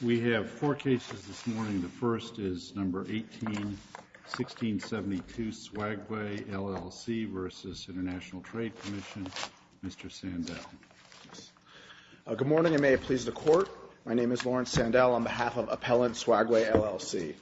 We have four cases this morning. The first is No. 18-1672, Swagway, LLC v. International Trade Commission. Mr. Sandel. Good morning, and may it please the Court. My name is Lawrence Sandel on behalf of Appellant Swagway, LLC.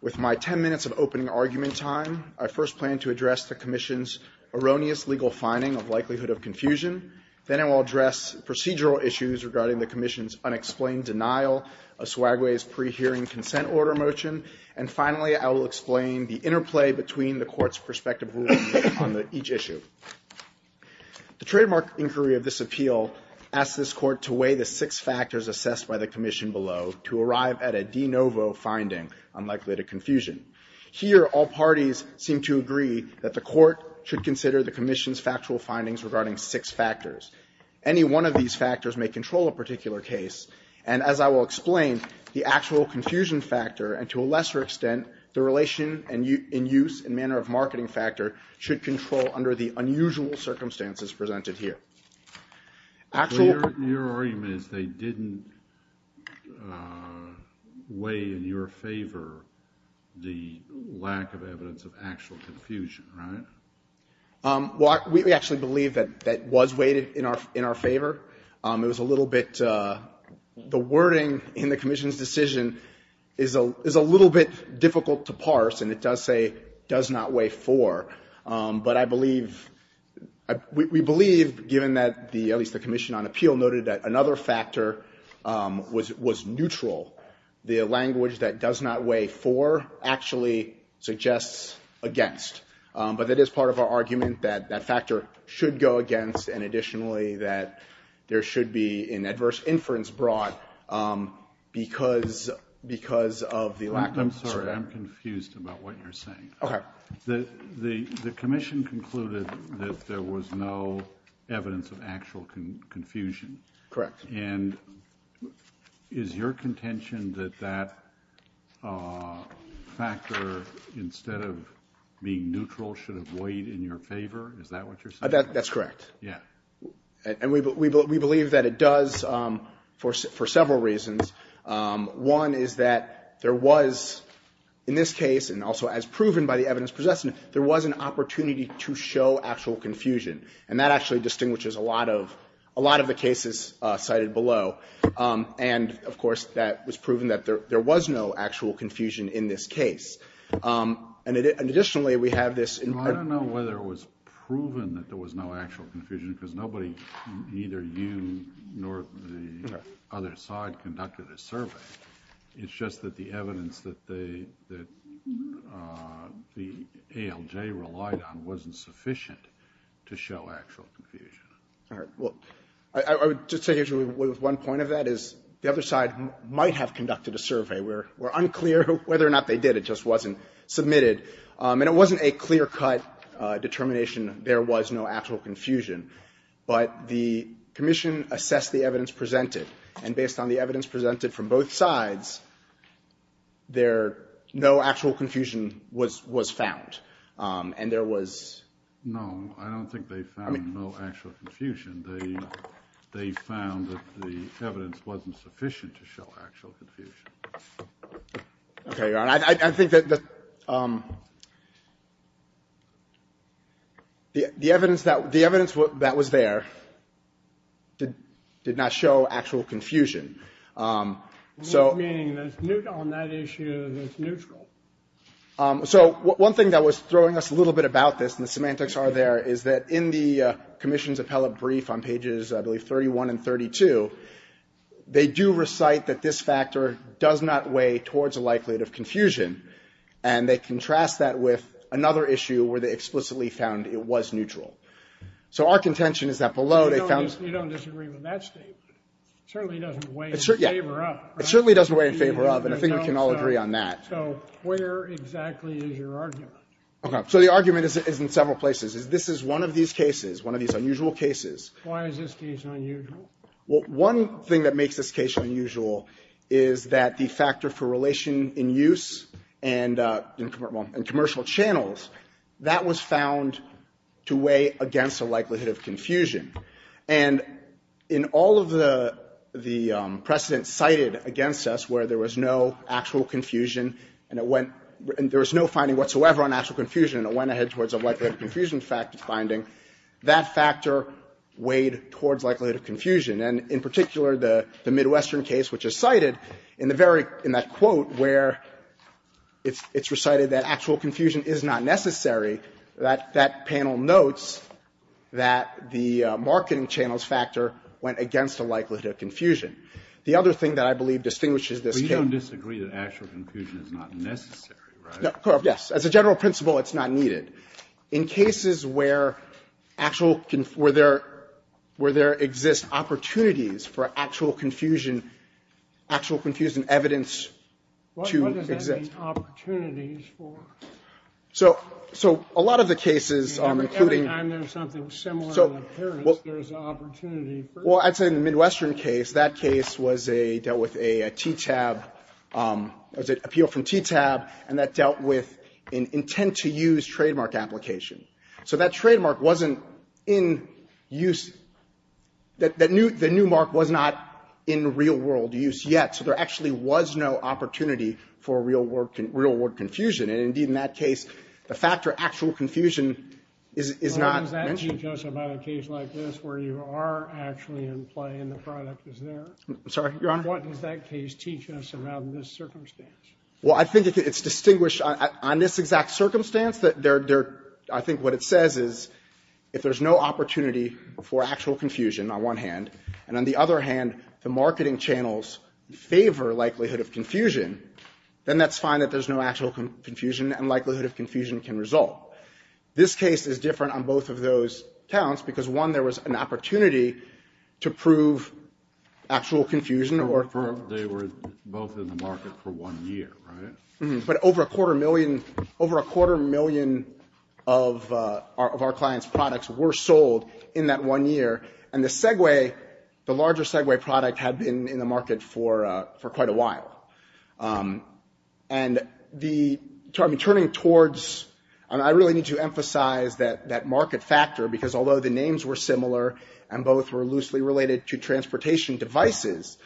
With my ten minutes of opening argument time, I first plan to address the Commission's erroneous legal finding of likelihood of confusion. Then I will address procedural issues regarding the Commission's unexplained denial of Swagway's pre-hearing consent order motion. And finally, I will explain the interplay between the Court's prospective ruling on each issue. The trademark inquiry of this appeal asks this Court to weigh the six factors assessed by the Commission below to arrive at a de novo finding, unlikely to confusion. Here, all parties seem to agree that the Court should consider the Commission's factual findings regarding six factors. Any one of these factors may control a particular case. And as I will explain, the actual confusion factor, and to a lesser extent, the relation in use and manner of marketing factor, should control under the unusual circumstances presented here. Your argument is they didn't weigh in your favor the lack of evidence of actual confusion, right? Well, we actually believe that that was weighted in our favor. It was a little bit the wording in the Commission's decision is a little bit difficult to parse, and it does say does not weigh four. But I believe, we believe, given that the, at least the Commission on Appeal noted that another factor was neutral. The language that does not weigh four actually suggests against. But it is part of our argument that that factor should go against, and additionally, that there should be an adverse inference brought because of the lack of scope. I'm sorry. I'm confused about what you're saying. Okay. The Commission concluded that there was no evidence of actual confusion. Correct. And is your contention that that factor, instead of being neutral, should have weighed in your favor? Is that what you're saying? That's correct. Yeah. And we believe that it does for several reasons. One is that there was, in this case, and also as proven by the evidence possessing it, there was an opportunity to show actual confusion. And that actually distinguishes a lot of the cases cited below. And, of course, that was proven that there was no actual confusion in this case. And additionally, we have this. Well, I don't know whether it was proven that there was no actual confusion because nobody, neither you nor the other side, conducted a survey. It's just that the evidence that the ALJ relied on wasn't sufficient to show actual confusion. All right. Well, I would just take issue with one point of that is the other side might have conducted a survey. We're unclear whether or not they did. It just wasn't submitted. And it wasn't a clear-cut determination there was no actual confusion. But the commission assessed the evidence presented. And based on the evidence presented from both sides, there, no actual confusion was found. And there was. No, I don't think they found no actual confusion. They found that the evidence wasn't sufficient to show actual confusion. Okay. I think that the evidence that was there did not show actual confusion. Meaning on that issue, it's neutral. So one thing that was throwing us a little bit about this, and the semantics are there, is that in the commission's appellate brief on pages, I believe, 31 and 32, they do recite that this factor does not weigh towards a likelihood of confusion. And they contrast that with another issue where they explicitly found it was neutral. So our contention is that below, they found that. You don't disagree with that statement. It certainly doesn't weigh in favor of. It certainly doesn't weigh in favor of. And I think we can all agree on that. So where exactly is your argument? Okay. So the argument is in several places. This is one of these cases, one of these unusual cases. Why is this case unusual? Well, one thing that makes this case unusual is that the factor for relation in use and commercial channels, that was found to weigh against the likelihood of confusion. And in all of the precedents cited against us where there was no actual confusion and there was no finding whatsoever on actual confusion and it went ahead towards a likelihood of confusion finding, that factor weighed towards likelihood of confusion. And in particular, the Midwestern case, which is cited in the very, in that quote, where it's recited that actual confusion is not necessary, that panel notes that the marketing channels factor went against the likelihood of confusion. The other thing that I believe distinguishes this case. But you don't disagree that actual confusion is not necessary, right? Yes. As a general principle, it's not needed. In cases where actual, where there exists opportunities for actual confusion, actual confusion evidence to exist. What does that mean, opportunities for? So a lot of the cases, including. Every time there's something similar in appearance, there's an opportunity. Well, I'd say in the Midwestern case, that case was a, dealt with a TTAB, appeal from TTAB, and that dealt with an intent to use trademark application. So that trademark wasn't in use. The new mark was not in real world use yet. So there actually was no opportunity for real world confusion. And indeed, in that case, the factor of actual confusion is not mentioned. What does that teach us about a case like this where you are actually in play and the product is there? I'm sorry, Your Honor? What does that case teach us about this circumstance? Well, I think it's distinguished on this exact circumstance. I think what it says is if there's no opportunity for actual confusion on one hand, and on the other hand, the marketing channels favor likelihood of confusion, then that's fine that there's no actual confusion and likelihood of confusion can result. I don't think there was an opportunity to prove actual confusion. They were both in the market for one year, right? But over a quarter million of our clients' products were sold in that one year. And the Segway, the larger Segway product, had been in the market for quite a while. And turning towards, I really need to emphasize that market factor because although the names were similar and both were loosely related to transportation devices,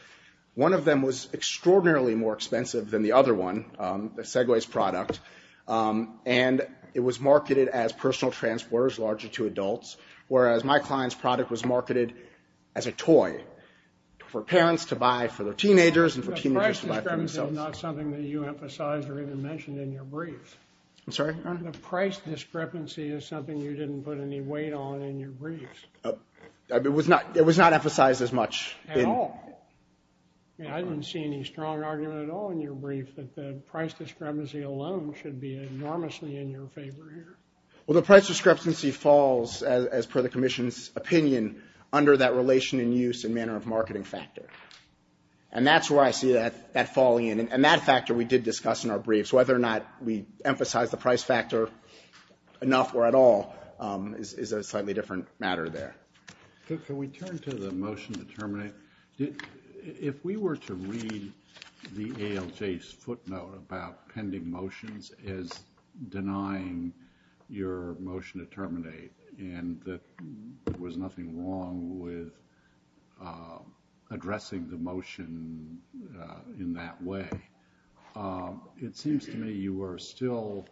one of them was extraordinarily more expensive than the other one, the Segway's product, and it was marketed as personal transporters, larger to adults, whereas my client's product was marketed as a toy for parents to buy for their teenagers and for teenagers to buy for themselves. The price discrepancy is not something that you emphasized or even mentioned in your brief. I'm sorry, Your Honor? The price discrepancy is something you didn't put any weight on in your brief. It was not emphasized as much. At all. I didn't see any strong argument at all in your brief that the price discrepancy alone should be enormously in your favor here. Well, the price discrepancy falls, as per the Commission's opinion, under that relation in use and manner of marketing factor. And that's where I see that falling in. And that factor we did discuss in our briefs. Whether or not we emphasize the price factor enough or at all is a slightly different matter there. Can we turn to the motion to terminate? If we were to read the ALJ's footnote about pending motions as denying your motion to terminate and that there was nothing wrong with addressing the motion in that way, it seems to me you are still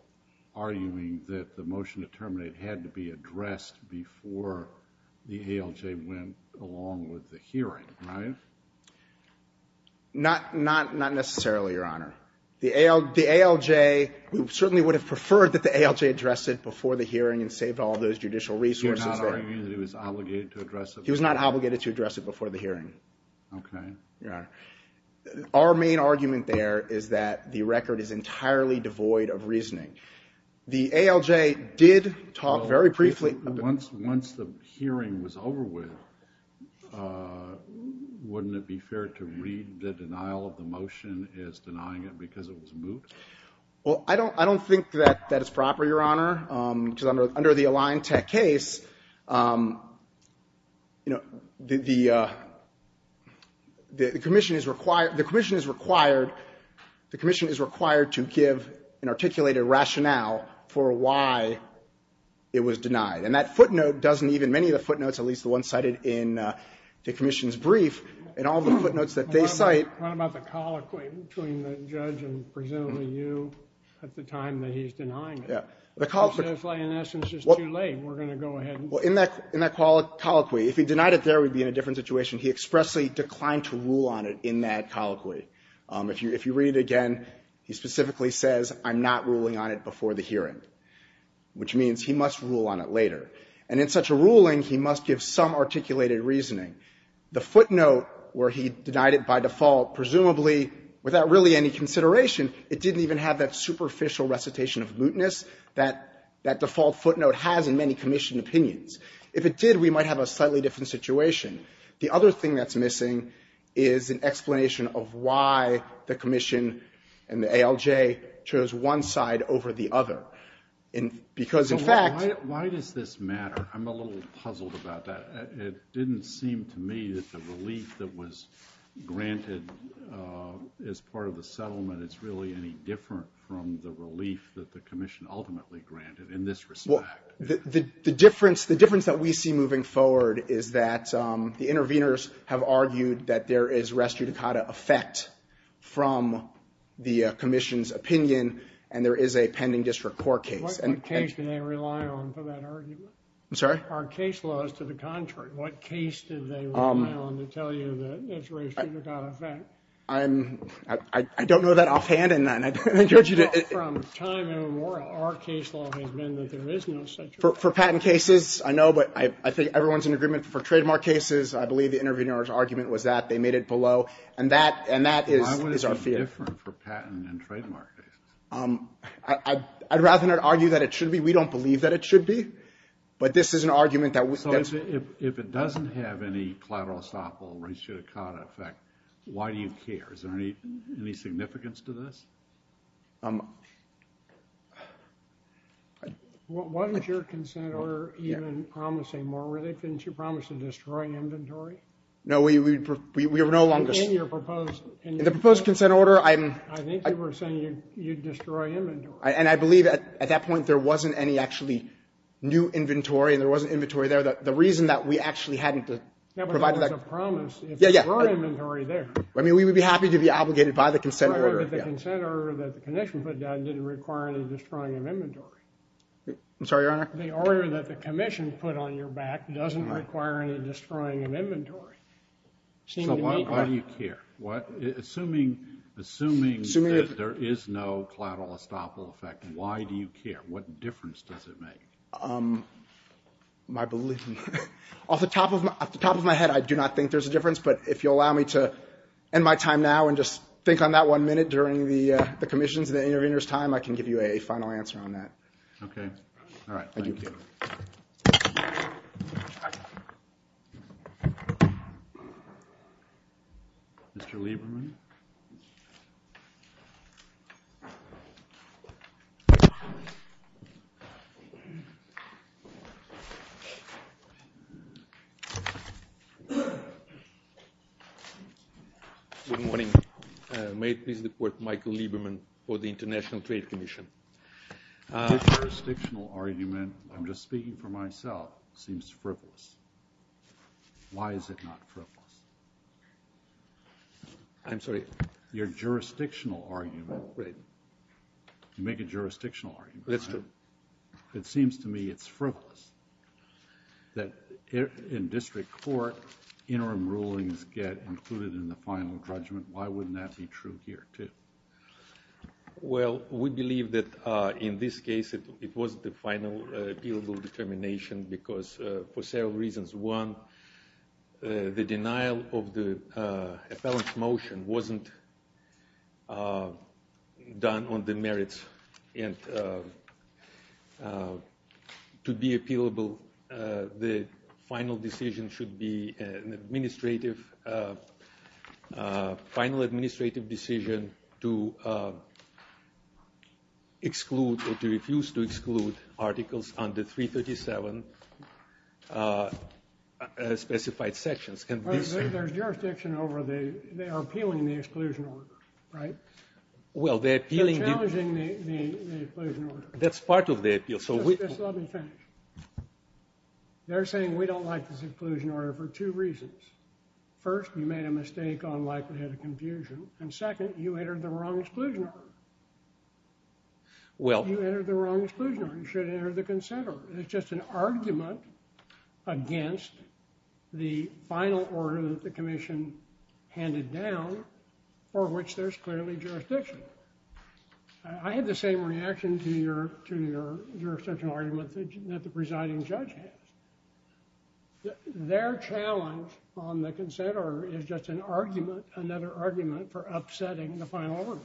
arguing that the motion to terminate had to be addressed before the ALJ went along with the hearing, right? Not necessarily, Your Honor. The ALJ certainly would have preferred that the ALJ addressed it before the hearing and saved all those judicial resources there. You're not arguing that it was obligated to address it before the hearing? He was not obligated to address it before the hearing. Okay. Your Honor. Our main argument there is that the record is entirely devoid of reasoning. The ALJ did talk very briefly about it. Once the hearing was over with, wouldn't it be fair to read the denial of the motion as denying it because it was moved? Well, I don't think that that is proper, Your Honor. Because under the Alliantech case, you know, the commission is required to give an articulated rationale for why it was denied. And that footnote doesn't even, many of the footnotes, at least the one cited in the commission's brief and all the footnotes that they cite. What about the colloquy between the judge and presumably you at the time that he's denying it? Well, in that colloquy, if he denied it there, we'd be in a different situation. He expressly declined to rule on it in that colloquy. If you read it again, he specifically says, I'm not ruling on it before the hearing, which means he must rule on it later. And in such a ruling, he must give some articulated reasoning. The footnote where he denied it by default, presumably without really any consideration, it didn't even have that superficial recitation of mootness that that default footnote has in many commission opinions. If it did, we might have a slightly different situation. The other thing that's missing is an explanation of why the commission and the ALJ chose one side over the other. Because, in fact — So why does this matter? I'm a little puzzled about that. It didn't seem to me that the relief that was granted as part of the settlement is really any different from the relief that the commission ultimately granted in this respect. Well, the difference that we see moving forward is that the interveners have argued that there is res judicata effect from the commission's opinion, and there is a pending district court case. What case do they rely on for that argument? I'm sorry? Our case law is to the contrary. What case do they rely on to tell you that there's res judicata effect? I don't know that offhand, and I encourage you to — From time immemorial, our case law has been that there is no such — For patent cases, I know, but I think everyone's in agreement. For trademark cases, I believe the intervener's argument was that they made it below. And that is our fear. Why would it be different for patent and trademark cases? I'd rather not argue that it should be. We don't believe that it should be. But this is an argument that — So if it doesn't have any collateral estoppel, res judicata effect, why do you care? Is there any significance to this? Why was your consent order even promising more? Weren't you promised to destroy inventory? No, we were no longer — In your proposed — In the proposed consent order, I'm — I think you were saying you'd destroy inventory. And I believe at that point there wasn't any actually new inventory, and there wasn't inventory there. The reason that we actually hadn't provided that — That was a promise. Yeah, yeah. Destroy inventory there. I mean, we would be happy to be obligated by the consent order. But the consent order that the commission put down didn't require any destroying of inventory. I'm sorry, Your Honor? The order that the commission put on your back doesn't require any destroying of inventory. So why do you care? Assuming that there is no collateral estoppel effect, why do you care? What difference does it make? My belief — Off the top of my head, I do not think there's a difference. But if you'll allow me to end my time now and just think on that one minute during the commission's and the intervener's time, I can give you a final answer on that. Okay. All right. Thank you. Mr. Lieberman? Thank you. Good morning. May it please the Court, Michael Lieberman for the International Trade Commission. Your jurisdictional argument — I'm just speaking for myself — seems frivolous. Why is it not frivolous? I'm sorry? Your jurisdictional argument — Right. You make a jurisdictional argument. That's true. It seems to me it's frivolous that in district court interim rulings get included in the final judgment. Why wouldn't that be true here, too? Well, we believe that in this case it was the final appealable determination because for several reasons. One, the denial of the appellant's motion wasn't done on the merits. And to be appealable, the final decision should be an administrative — final administrative decision to exclude or to refuse to exclude articles under 337 specified sections. There's jurisdiction over the — they are appealing the exclusion order, right? Well, they're appealing — They're challenging the exclusion order. That's part of the appeal. Just let me finish. They're saying we don't like this exclusion order for two reasons. First, you made a mistake on likelihood of confusion. And second, you entered the wrong exclusion order. Well — You entered the wrong exclusion order. You should have entered the consent order. It's just an argument against the final order that the commission handed down for which there's clearly jurisdiction. I had the same reaction to your — to your jurisdictional argument that the presiding judge has. Their challenge on the consent order is just an argument — another argument for upsetting the final order,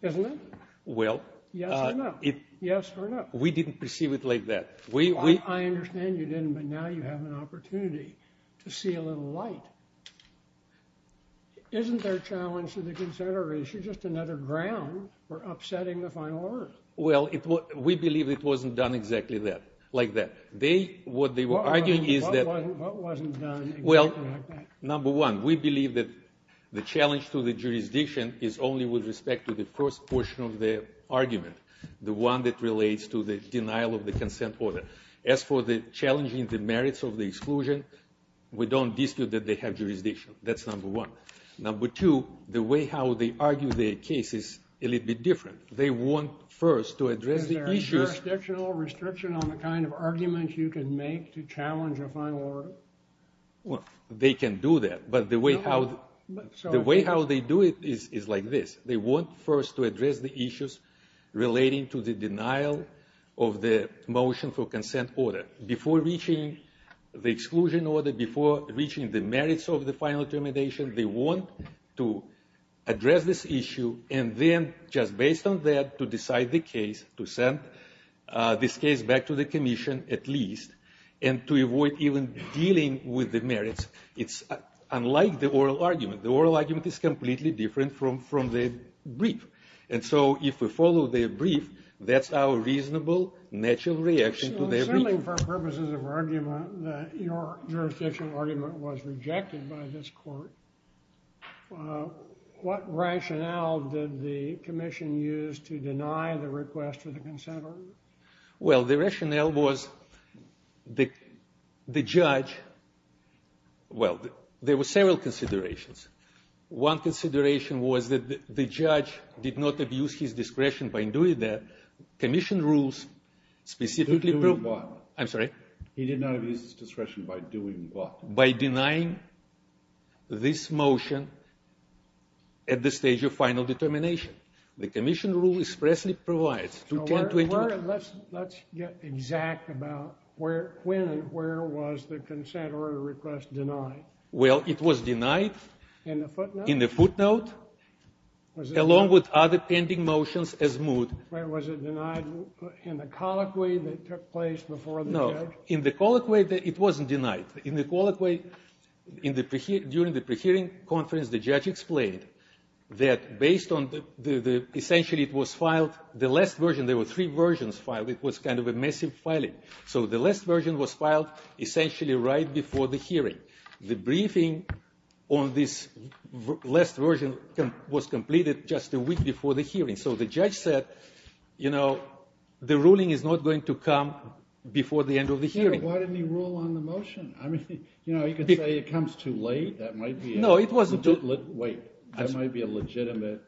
isn't it? Well — Yes or no? Yes or no? We didn't perceive it like that. We — I understand you didn't, but now you have an opportunity to see a little light. Isn't their challenge to the consent order issue just another ground for upsetting the final order? Well, we believe it wasn't done exactly that — like that. They — what they were arguing is that — What wasn't done exactly like that? Well, number one, we believe that the challenge to the jurisdiction is only with respect to the first portion of the argument, the one that relates to the denial of the consent order. As for the challenging the merits of the exclusion, we don't dispute that they have jurisdiction. That's number one. Number two, the way how they argue their case is a little bit different. They want first to address the issues — Is there a jurisdictional restriction on the kind of arguments you can make to challenge a final order? Well, they can do that, but the way how — No, but — The way how they do it is like this. They want first to address the issues relating to the denial of the motion for consent order. Before reaching the exclusion order, before reaching the merits of the final termination, they want to address this issue and then, just based on that, to decide the case, to send this case back to the commission, at least, and to avoid even dealing with the merits. It's unlike the oral argument. The oral argument is completely different from the brief. And so if we follow the brief, that's our reasonable, natural reaction to the — Assuming for purposes of argument that your jurisdictional argument was rejected by this court, what rationale did the commission use to deny the request for the consent order? Well, the rationale was the judge — Well, there were several considerations. One consideration was that the judge did not abuse his discretion by doing that. Commission rules specifically — By doing what? I'm sorry? He did not abuse his discretion by doing what? By denying this motion at the stage of final determination. The commission rule expressly provides to 1020 — Let's get exact about when and where was the consent order request denied. Well, it was denied — In the footnote? In the footnote, along with other pending motions as moved. Was it denied in the colloquy that took place before the judge? No. In the colloquy, it wasn't denied. In the colloquy, during the pre-hearing conference, the judge explained that based on the — essentially, it was filed — the last version, there were three versions filed, it was kind of a massive filing. So the last version was filed essentially right before the hearing. The briefing on this last version was completed just a week before the hearing. So the judge said, you know, the ruling is not going to come before the end of the hearing. Why didn't he rule on the motion? I mean, you know, you could say it comes too late. That might be a — No, it wasn't too — Wait. That might be a legitimate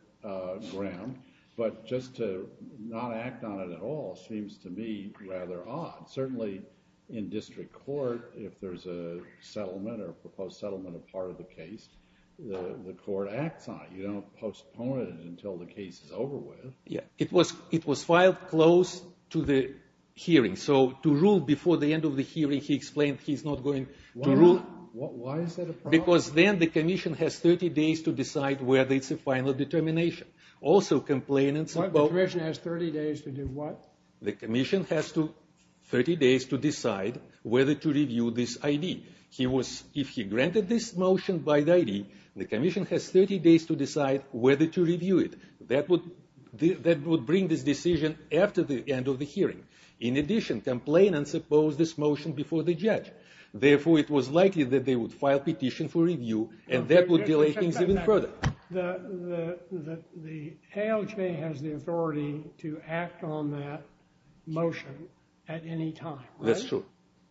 ground. But just to not act on it at all seems to me rather odd. Certainly in district court, if there's a settlement or a proposed settlement or part of the case, the court acts on it. You don't postpone it until the case is over with. It was filed close to the hearing. So to rule before the end of the hearing, he explained he's not going to rule — Why is that a problem? Because then the commission has 30 days to decide whether it's a final determination. Also, complainants — The commission has 30 days to do what? The commission has 30 days to decide whether to review this I.D. If he granted this motion by the I.D., the commission has 30 days to decide whether to review it. That would bring this decision after the end of the hearing. In addition, complainants opposed this motion before the judge. Therefore, it was likely that they would file a petition for review, and that would delay things even further. The ALJ has the authority to act on that motion at any time, right? That's true.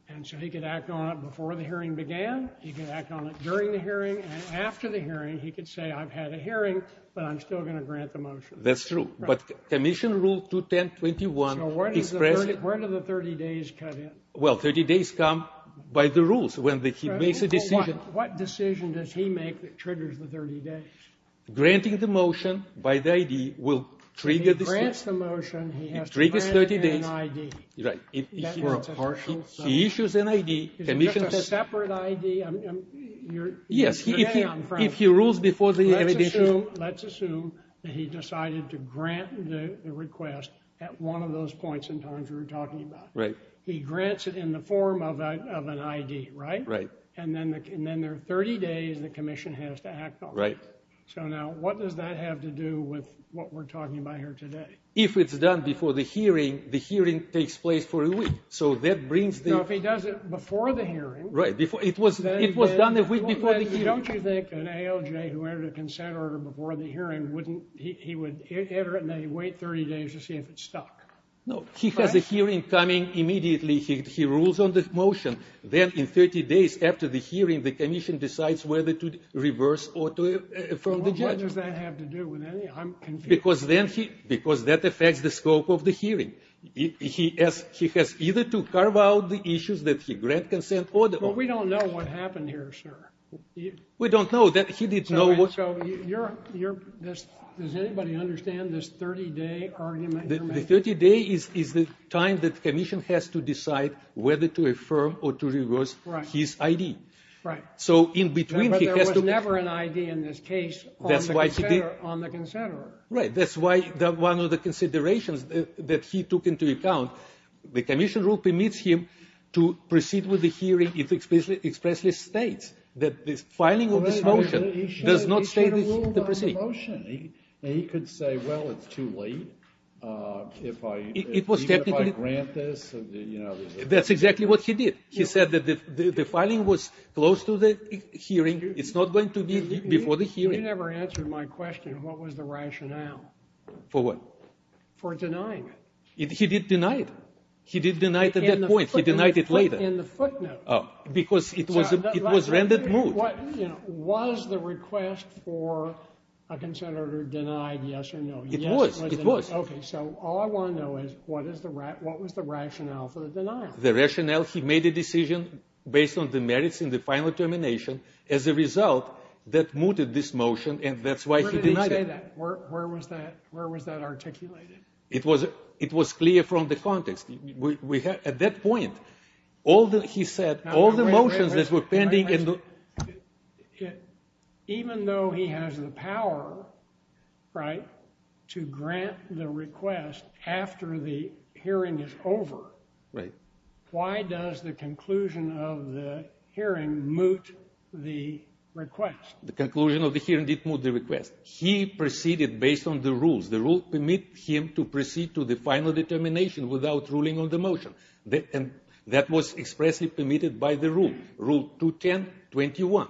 And so he could act on it before the hearing began. He could act on it during the hearing. And after the hearing, he could say, I've had a hearing, but I'm still going to grant the motion. That's true. But Commission Rule 210.21 expressed — So where do the 30 days cut in? Well, 30 days come by the rules when he makes a decision. What decision does he make that triggers the 30 days? Granting the motion by the I.D. will trigger the — He grants the motion. He has to grant it in I.D. Right. He issues an I.D. Is it just a separate I.D.? Yes. If he rules before the hearing — Let's assume that he decided to grant the request at one of those points in time you were talking about. Right. He grants it in the form of an I.D., right? Right. And then there are 30 days the Commission has to act on. Right. So now what does that have to do with what we're talking about here today? If it's done before the hearing, the hearing takes place for a week. So that brings the — No, if he does it before the hearing — Right. It was done a week before the hearing. Don't you think an ALJ who entered a consent order before the hearing wouldn't — he would enter it and then he'd wait 30 days to see if it stuck? No. He has a hearing coming immediately. He rules on the motion. Then in 30 days after the hearing, the Commission decides whether to reverse order from the judge. So what does that have to do with any — I'm confused. Because then he — because that affects the scope of the hearing. He has either to carve out the issues that he grant consent order or — But we don't know what happened here, sir. We don't know. He didn't know what — So you're — does anybody understand this 30-day argument you're making? The 30-day is the time that the Commission has to decide whether to affirm or to reverse his I.D. Right. So in between, he has to — But there was never an I.D. in this case on the consent order. Right. That's why one of the considerations that he took into account, the Commission rule permits him to proceed with the hearing if it expressly states that the filing of this motion does not state the procedure. He should have ruled on the motion. He could say, well, it's too late. If I — It was technically — Even if I grant this, you know — That's exactly what he did. He said that the filing was close to the hearing. It's not going to be before the hearing. You never answered my question. What was the rationale? For what? For denying it. He did deny it. He did deny it at that point. He denied it later. In the footnote. Because it was rendered moot. Was the request for a consent order denied, yes or no? It was. It was. Okay. So all I want to know is what was the rationale for the denial? The rationale, he made a decision based on the merits in the final termination. As a result, that mooted this motion, and that's why he denied it. Where did he say that? Where was that articulated? It was clear from the context. At that point, all that he said, all the motions that were pending — Even though he has the power to grant the request after the hearing is over, why does the conclusion of the hearing moot the request? The conclusion of the hearing did moot the request. He proceeded based on the rules. The rules permit him to proceed to the final determination without ruling on the motion. And that was expressly permitted by the rule. Rule 210.21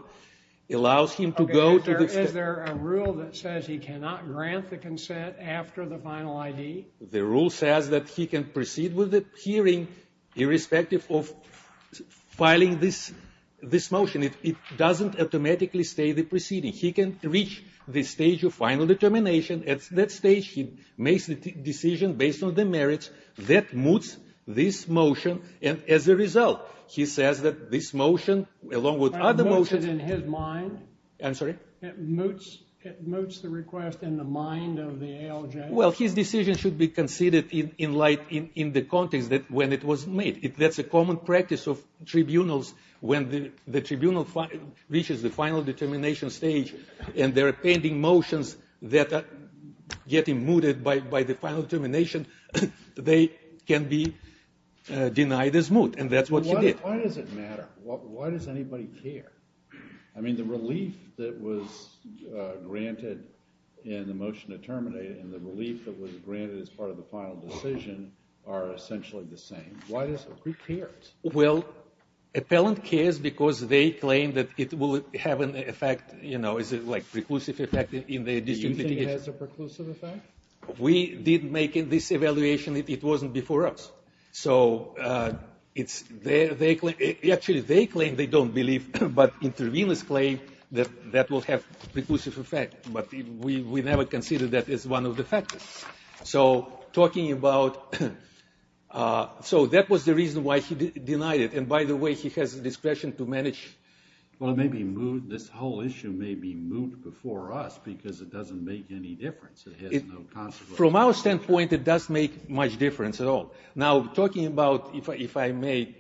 allows him to go to the — Okay. Is there a rule that says he cannot grant the consent after the final ID? The rule says that he can proceed with the hearing irrespective of filing this motion. It doesn't automatically state the proceeding. He can reach the stage of final determination. At that stage, he makes the decision based on the merits. That moots this motion. And as a result, he says that this motion, along with other motions — It moots it in his mind? I'm sorry? It moots the request in the mind of the ALJ? Well, his decision should be considered in the context when it was made. That's a common practice of tribunals. When the tribunal reaches the final determination stage, and there are pending motions that are getting mooted by the final determination, they can be denied as moot. And that's what she did. Why does it matter? Why does anybody care? I mean, the relief that was granted in the motion to terminate it and the relief that was granted as part of the final decision are essentially the same. Why does a group care? Well, appellant cares because they claim that it will have an effect, you know, like preclusive effect in the district litigation. You think it has a preclusive effect? We did make this evaluation. It wasn't before us. So it's their — actually, they claim they don't believe, but interveners claim that that will have preclusive effect. But we never considered that as one of the factors. So talking about — so that was the reason why he denied it. And by the way, he has discretion to manage — Well, it may be moot. This whole issue may be moot before us because it doesn't make any difference. It has no consequence. From our standpoint, it doesn't make much difference at all. Now, talking about — if I may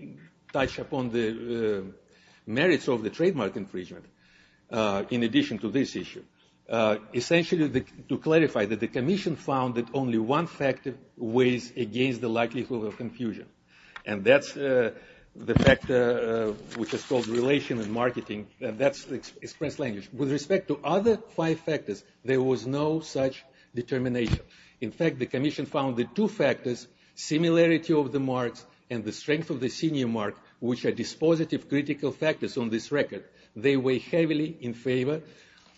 touch upon the merits of the trademark infringement in addition to this issue. Essentially, to clarify, the commission found that only one factor weighs against the likelihood of confusion, and that's the factor which is called relation and marketing, and that's express language. With respect to other five factors, there was no such determination. In fact, the commission found the two factors, similarity of the marks and the strength of the senior mark, which are dispositive critical factors on this record, they weigh heavily in favor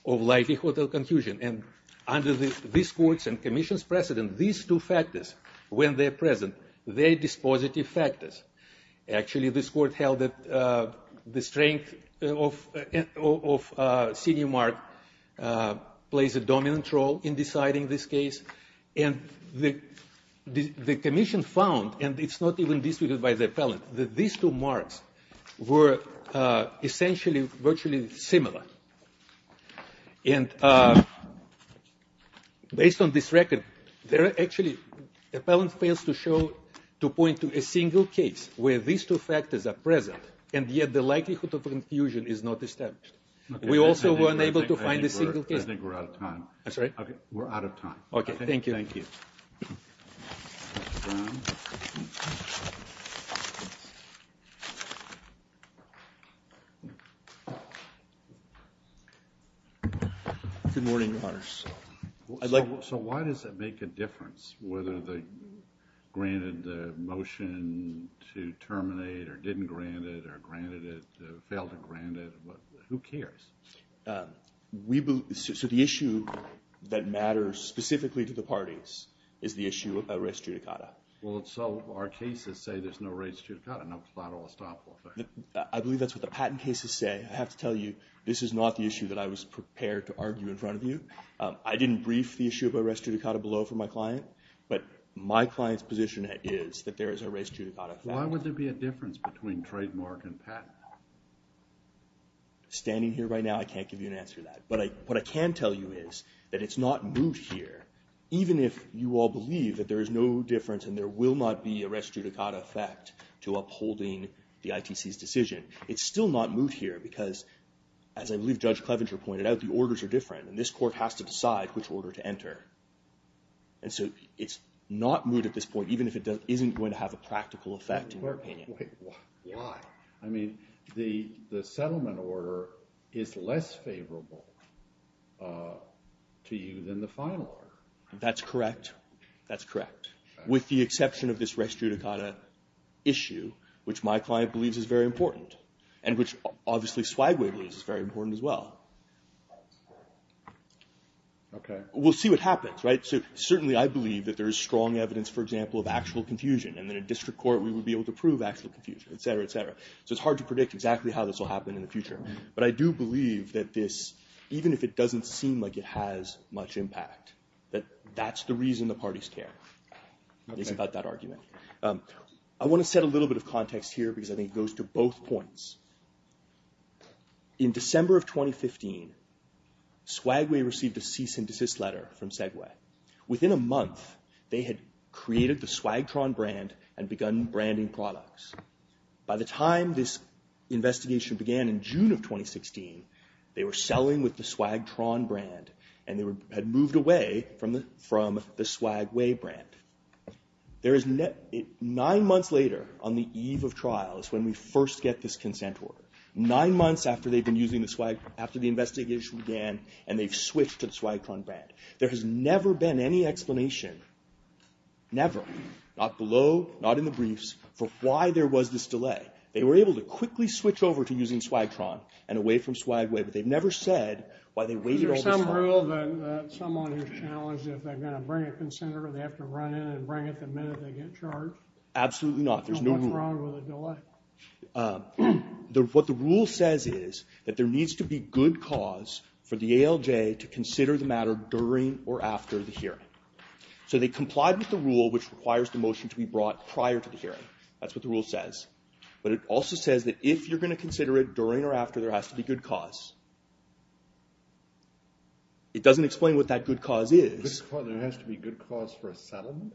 of likelihood of confusion. And under this court's and commission's precedent, these two factors, when they're present, they're dispositive factors. Actually, this court held that the strength of senior mark plays a dominant role in deciding this case. And the commission found, and it's not even disputed by the appellant, that these two marks were essentially virtually similar. And based on this record, there are actually — appellant fails to show, to point to a single case where these two factors are present, and yet the likelihood of confusion is not established. We also were unable to find a single case. I think we're out of time. I'm sorry? We're out of time. Okay. Thank you. Thank you. Mr. Brown? Good morning, Your Honors. So why does it make a difference whether they granted the motion to terminate or didn't grant it or granted it, failed to grant it? Who cares? So the issue that matters specifically to the parties is the issue of a res judicata. Well, so our cases say there's no res judicata, no final estoppel effect. I believe that's what the patent cases say. I have to tell you this is not the issue that I was prepared to argue in front of you. I didn't brief the issue of a res judicata below for my client, but my client's position is that there is a res judicata. Why would there be a difference between trademark and patent? Standing here right now, I can't give you an answer to that. But what I can tell you is that it's not moot here, even if you all believe that there is no difference and there will not be a res judicata effect to upholding the ITC's decision. It's still not moot here because, as I believe Judge Clevenger pointed out, the orders are different, and this court has to decide which order to enter. And so it's not moot at this point, even if it isn't going to have a practical effect in your opinion. Why? I mean, the settlement order is less favorable to you than the final order. That's correct. That's correct. With the exception of this res judicata issue, which my client believes is very important, and which obviously Swagway believes is very important as well. Okay. We'll see what happens, right? So certainly I believe that there is strong evidence, for example, of actual confusion, and that in district court we would be able to prove actual confusion, et cetera, et cetera. So it's hard to predict exactly how this will happen in the future. But I do believe that this, even if it doesn't seem like it has much impact, that that's the reason the parties care is about that argument. I want to set a little bit of context here because I think it goes to both points. In December of 2015, Swagway received a cease and desist letter from Segway. Within a month, they had created the Swagtron brand and begun branding products. By the time this investigation began in June of 2016, they were selling with the Swagtron brand, and they had moved away from the Swagway brand. Nine months later, on the eve of trials, when we first get this consent order, nine months after they've been using the Swag, after the investigation began, and they've switched to the Swagtron brand, there has never been any explanation, never, not below, not in the briefs, for why there was this delay. They were able to quickly switch over to using Swagtron and away from Swagway, but they've never said why they waited all this time. Is there some rule that someone who's challenged if they're going to bring a consent order, they have to run in and bring it the minute they get charged? Absolutely not. There's no rule. What's wrong with the delay? What the rule says is that there needs to be good cause for the ALJ to consider the matter during or after the hearing. So they complied with the rule, which requires the motion to be brought prior to the hearing. That's what the rule says. But it also says that if you're going to consider it during or after, there has to be good cause. It doesn't explain what that good cause is. There has to be good cause for a settlement?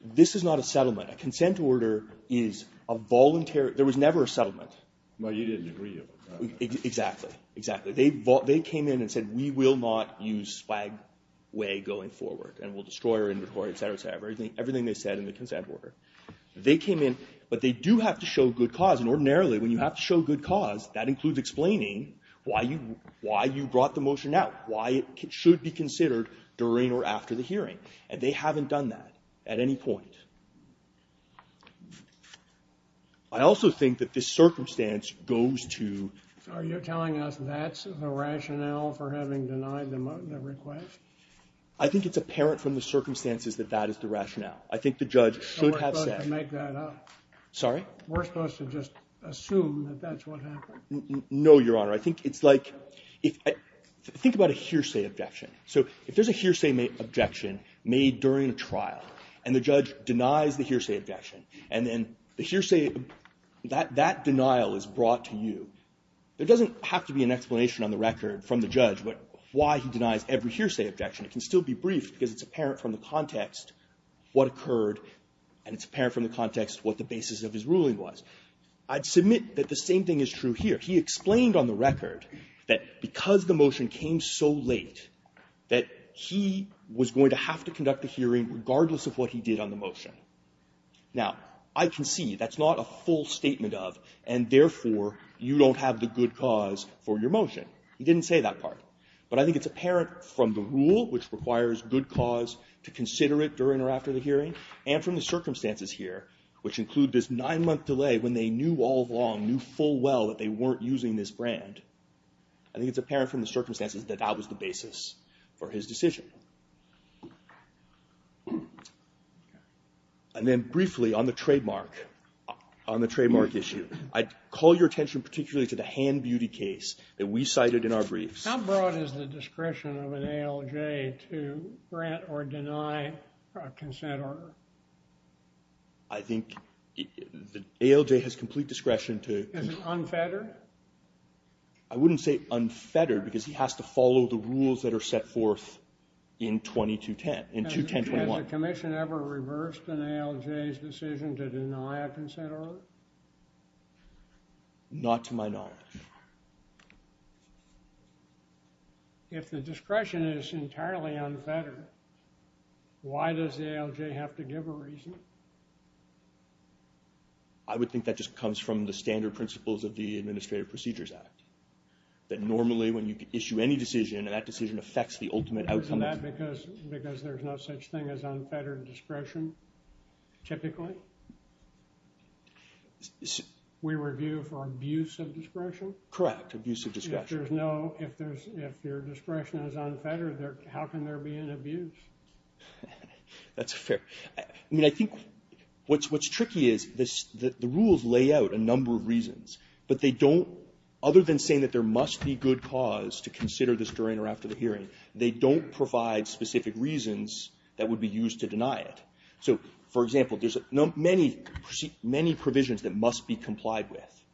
This is not a settlement. A consent order is a voluntary – there was never a settlement. Well, you didn't agree. Exactly, exactly. They came in and said, we will not use Swagway going forward, and we'll destroy her inventory, et cetera, et cetera, everything they said in the consent order. They came in, but they do have to show good cause. And ordinarily, when you have to show good cause, that includes explaining why you brought the motion out, why it should be considered during or after the hearing. And they haven't done that at any point. I also think that this circumstance goes to – So are you telling us that's the rationale for having denied the request? I think it's apparent from the circumstances that that is the rationale. I think the judge should have said – So we're supposed to make that up? Sorry? We're supposed to just assume that that's what happened? No, Your Honor. I think it's like – think about a hearsay objection. So if there's a hearsay objection made during a trial, and the judge denies the hearsay objection, and then the hearsay – that denial is brought to you, there doesn't have to be an explanation on the record from the judge why he denies every hearsay objection. It can still be briefed because it's apparent from the context what occurred, and it's apparent from the context what the basis of his ruling was. I'd submit that the same thing is true here. He explained on the record that because the motion came so late that he was going to have to conduct the hearing regardless of what he did on the motion. Now, I can see that's not a full statement of, and therefore you don't have the good cause for your motion. He didn't say that part. But I think it's apparent from the rule, which requires good cause to consider it during or after the hearing, and from the circumstances here, which include this nine-month delay when they knew all along, knew full well that they weren't using this brand. I think it's apparent from the circumstances that that was the basis for his decision. And then briefly on the trademark issue, I'd call your attention particularly to the Hand Beauty case that we cited in our briefs. How broad is the discretion of an ALJ to grant or deny a consent order? I think the ALJ has complete discretion to... Is it unfettered? I wouldn't say unfettered, because he has to follow the rules that are set forth in 21021. Has the commission ever reversed an ALJ's decision to deny a consent order? Not to my knowledge. If the discretion is entirely unfettered, why does the ALJ have to give a reason? I would think that just comes from the standard principles of the Administrative Procedures Act, that normally when you issue any decision, that decision affects the ultimate outcome. Isn't that because there's no such thing as unfettered discretion, typically? We review for abuse of discretion? Correct, abuse of discretion. If your discretion is unfettered, how can there be an abuse? That's fair. I think what's tricky is the rules lay out a number of reasons, but they don't... Other than saying that there must be good cause to consider this during or after the hearing, they don't provide specific reasons that would be used to deny it. So, for example, there's many provisions that must be complied with,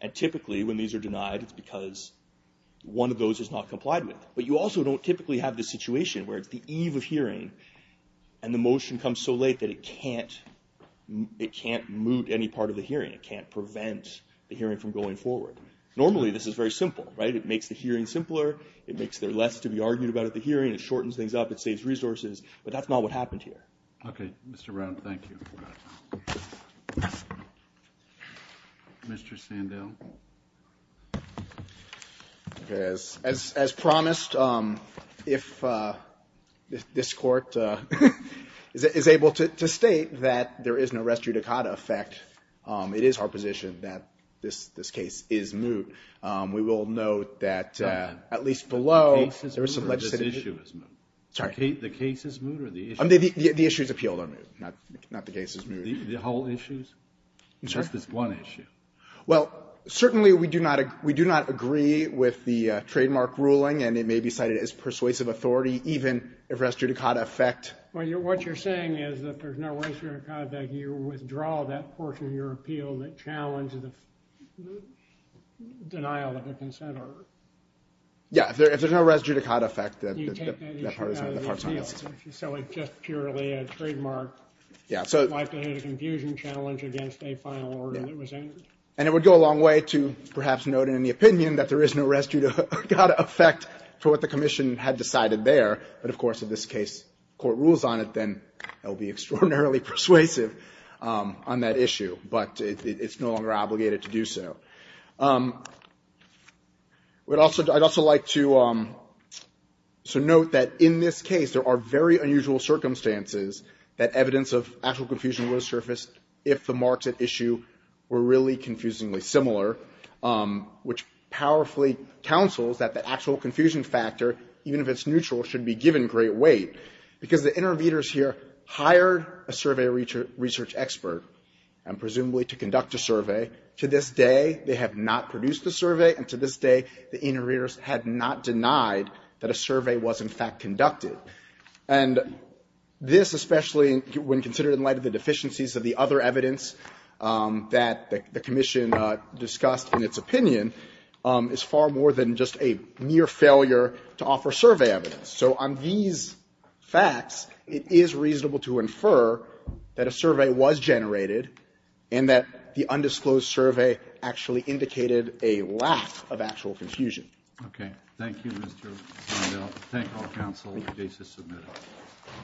and typically when these are denied, it's because one of those is not complied with. But you also don't typically have the situation where it's the eve of hearing and the motion comes so late that it can't moot any part of the hearing, it can't prevent the hearing from going forward. Normally this is very simple, right? It makes the hearing simpler, it makes there less to be argued about at the hearing, it shortens things up, it saves resources, but that's not what happened here. Okay, Mr. Brown, thank you. Mr. Sandell? Okay, as promised, if this Court is able to state that there is no res judicata effect, it is our position that this case is moot. We will note that at least below... The case is moot or the issue is moot? The case is moot or the issue is moot? The issue is appeal, not the case is moot. The whole issue? I'm sorry? Just this one issue? Well, certainly we do not agree with the trademark ruling and it may be cited as persuasive authority even if res judicata effect... What you're saying is that if there's no res judicata effect, you withdraw that portion of your appeal that challenged the denial of the consent order. Yeah, if there's no res judicata effect... You take that issue out of the appeal, so it's just purely a trademark likelihood of confusion challenge against a final order that was entered? And it would go a long way to perhaps note in the opinion that there is no res judicata effect for what the Commission had decided there, but of course in this case, the Court rules on it, then that would be extraordinarily persuasive on that issue, but it's no longer obligated to do so. I'd also like to note that in this case, there are very unusual circumstances that evidence of actual confusion would have surfaced if the marks at issue were really confusingly similar, which powerfully counsels that the actual confusion factor, even if it's neutral, should be given great weight because the inter-readers here hired a survey research expert and presumably to conduct a survey. To this day, they have not produced a survey and to this day, the inter-readers had not denied that a survey was in fact conducted. And this, especially when considered in light of the deficiencies of the other evidence that the Commission discussed in its opinion, is far more than just a mere failure to offer survey evidence. So on these facts, it is reasonable to infer that a survey was generated and that the undisclosed survey actually indicated a lack of actual confusion. Okay. Thank you, Mr. Vandell. Thank all counsel. The case is submitted.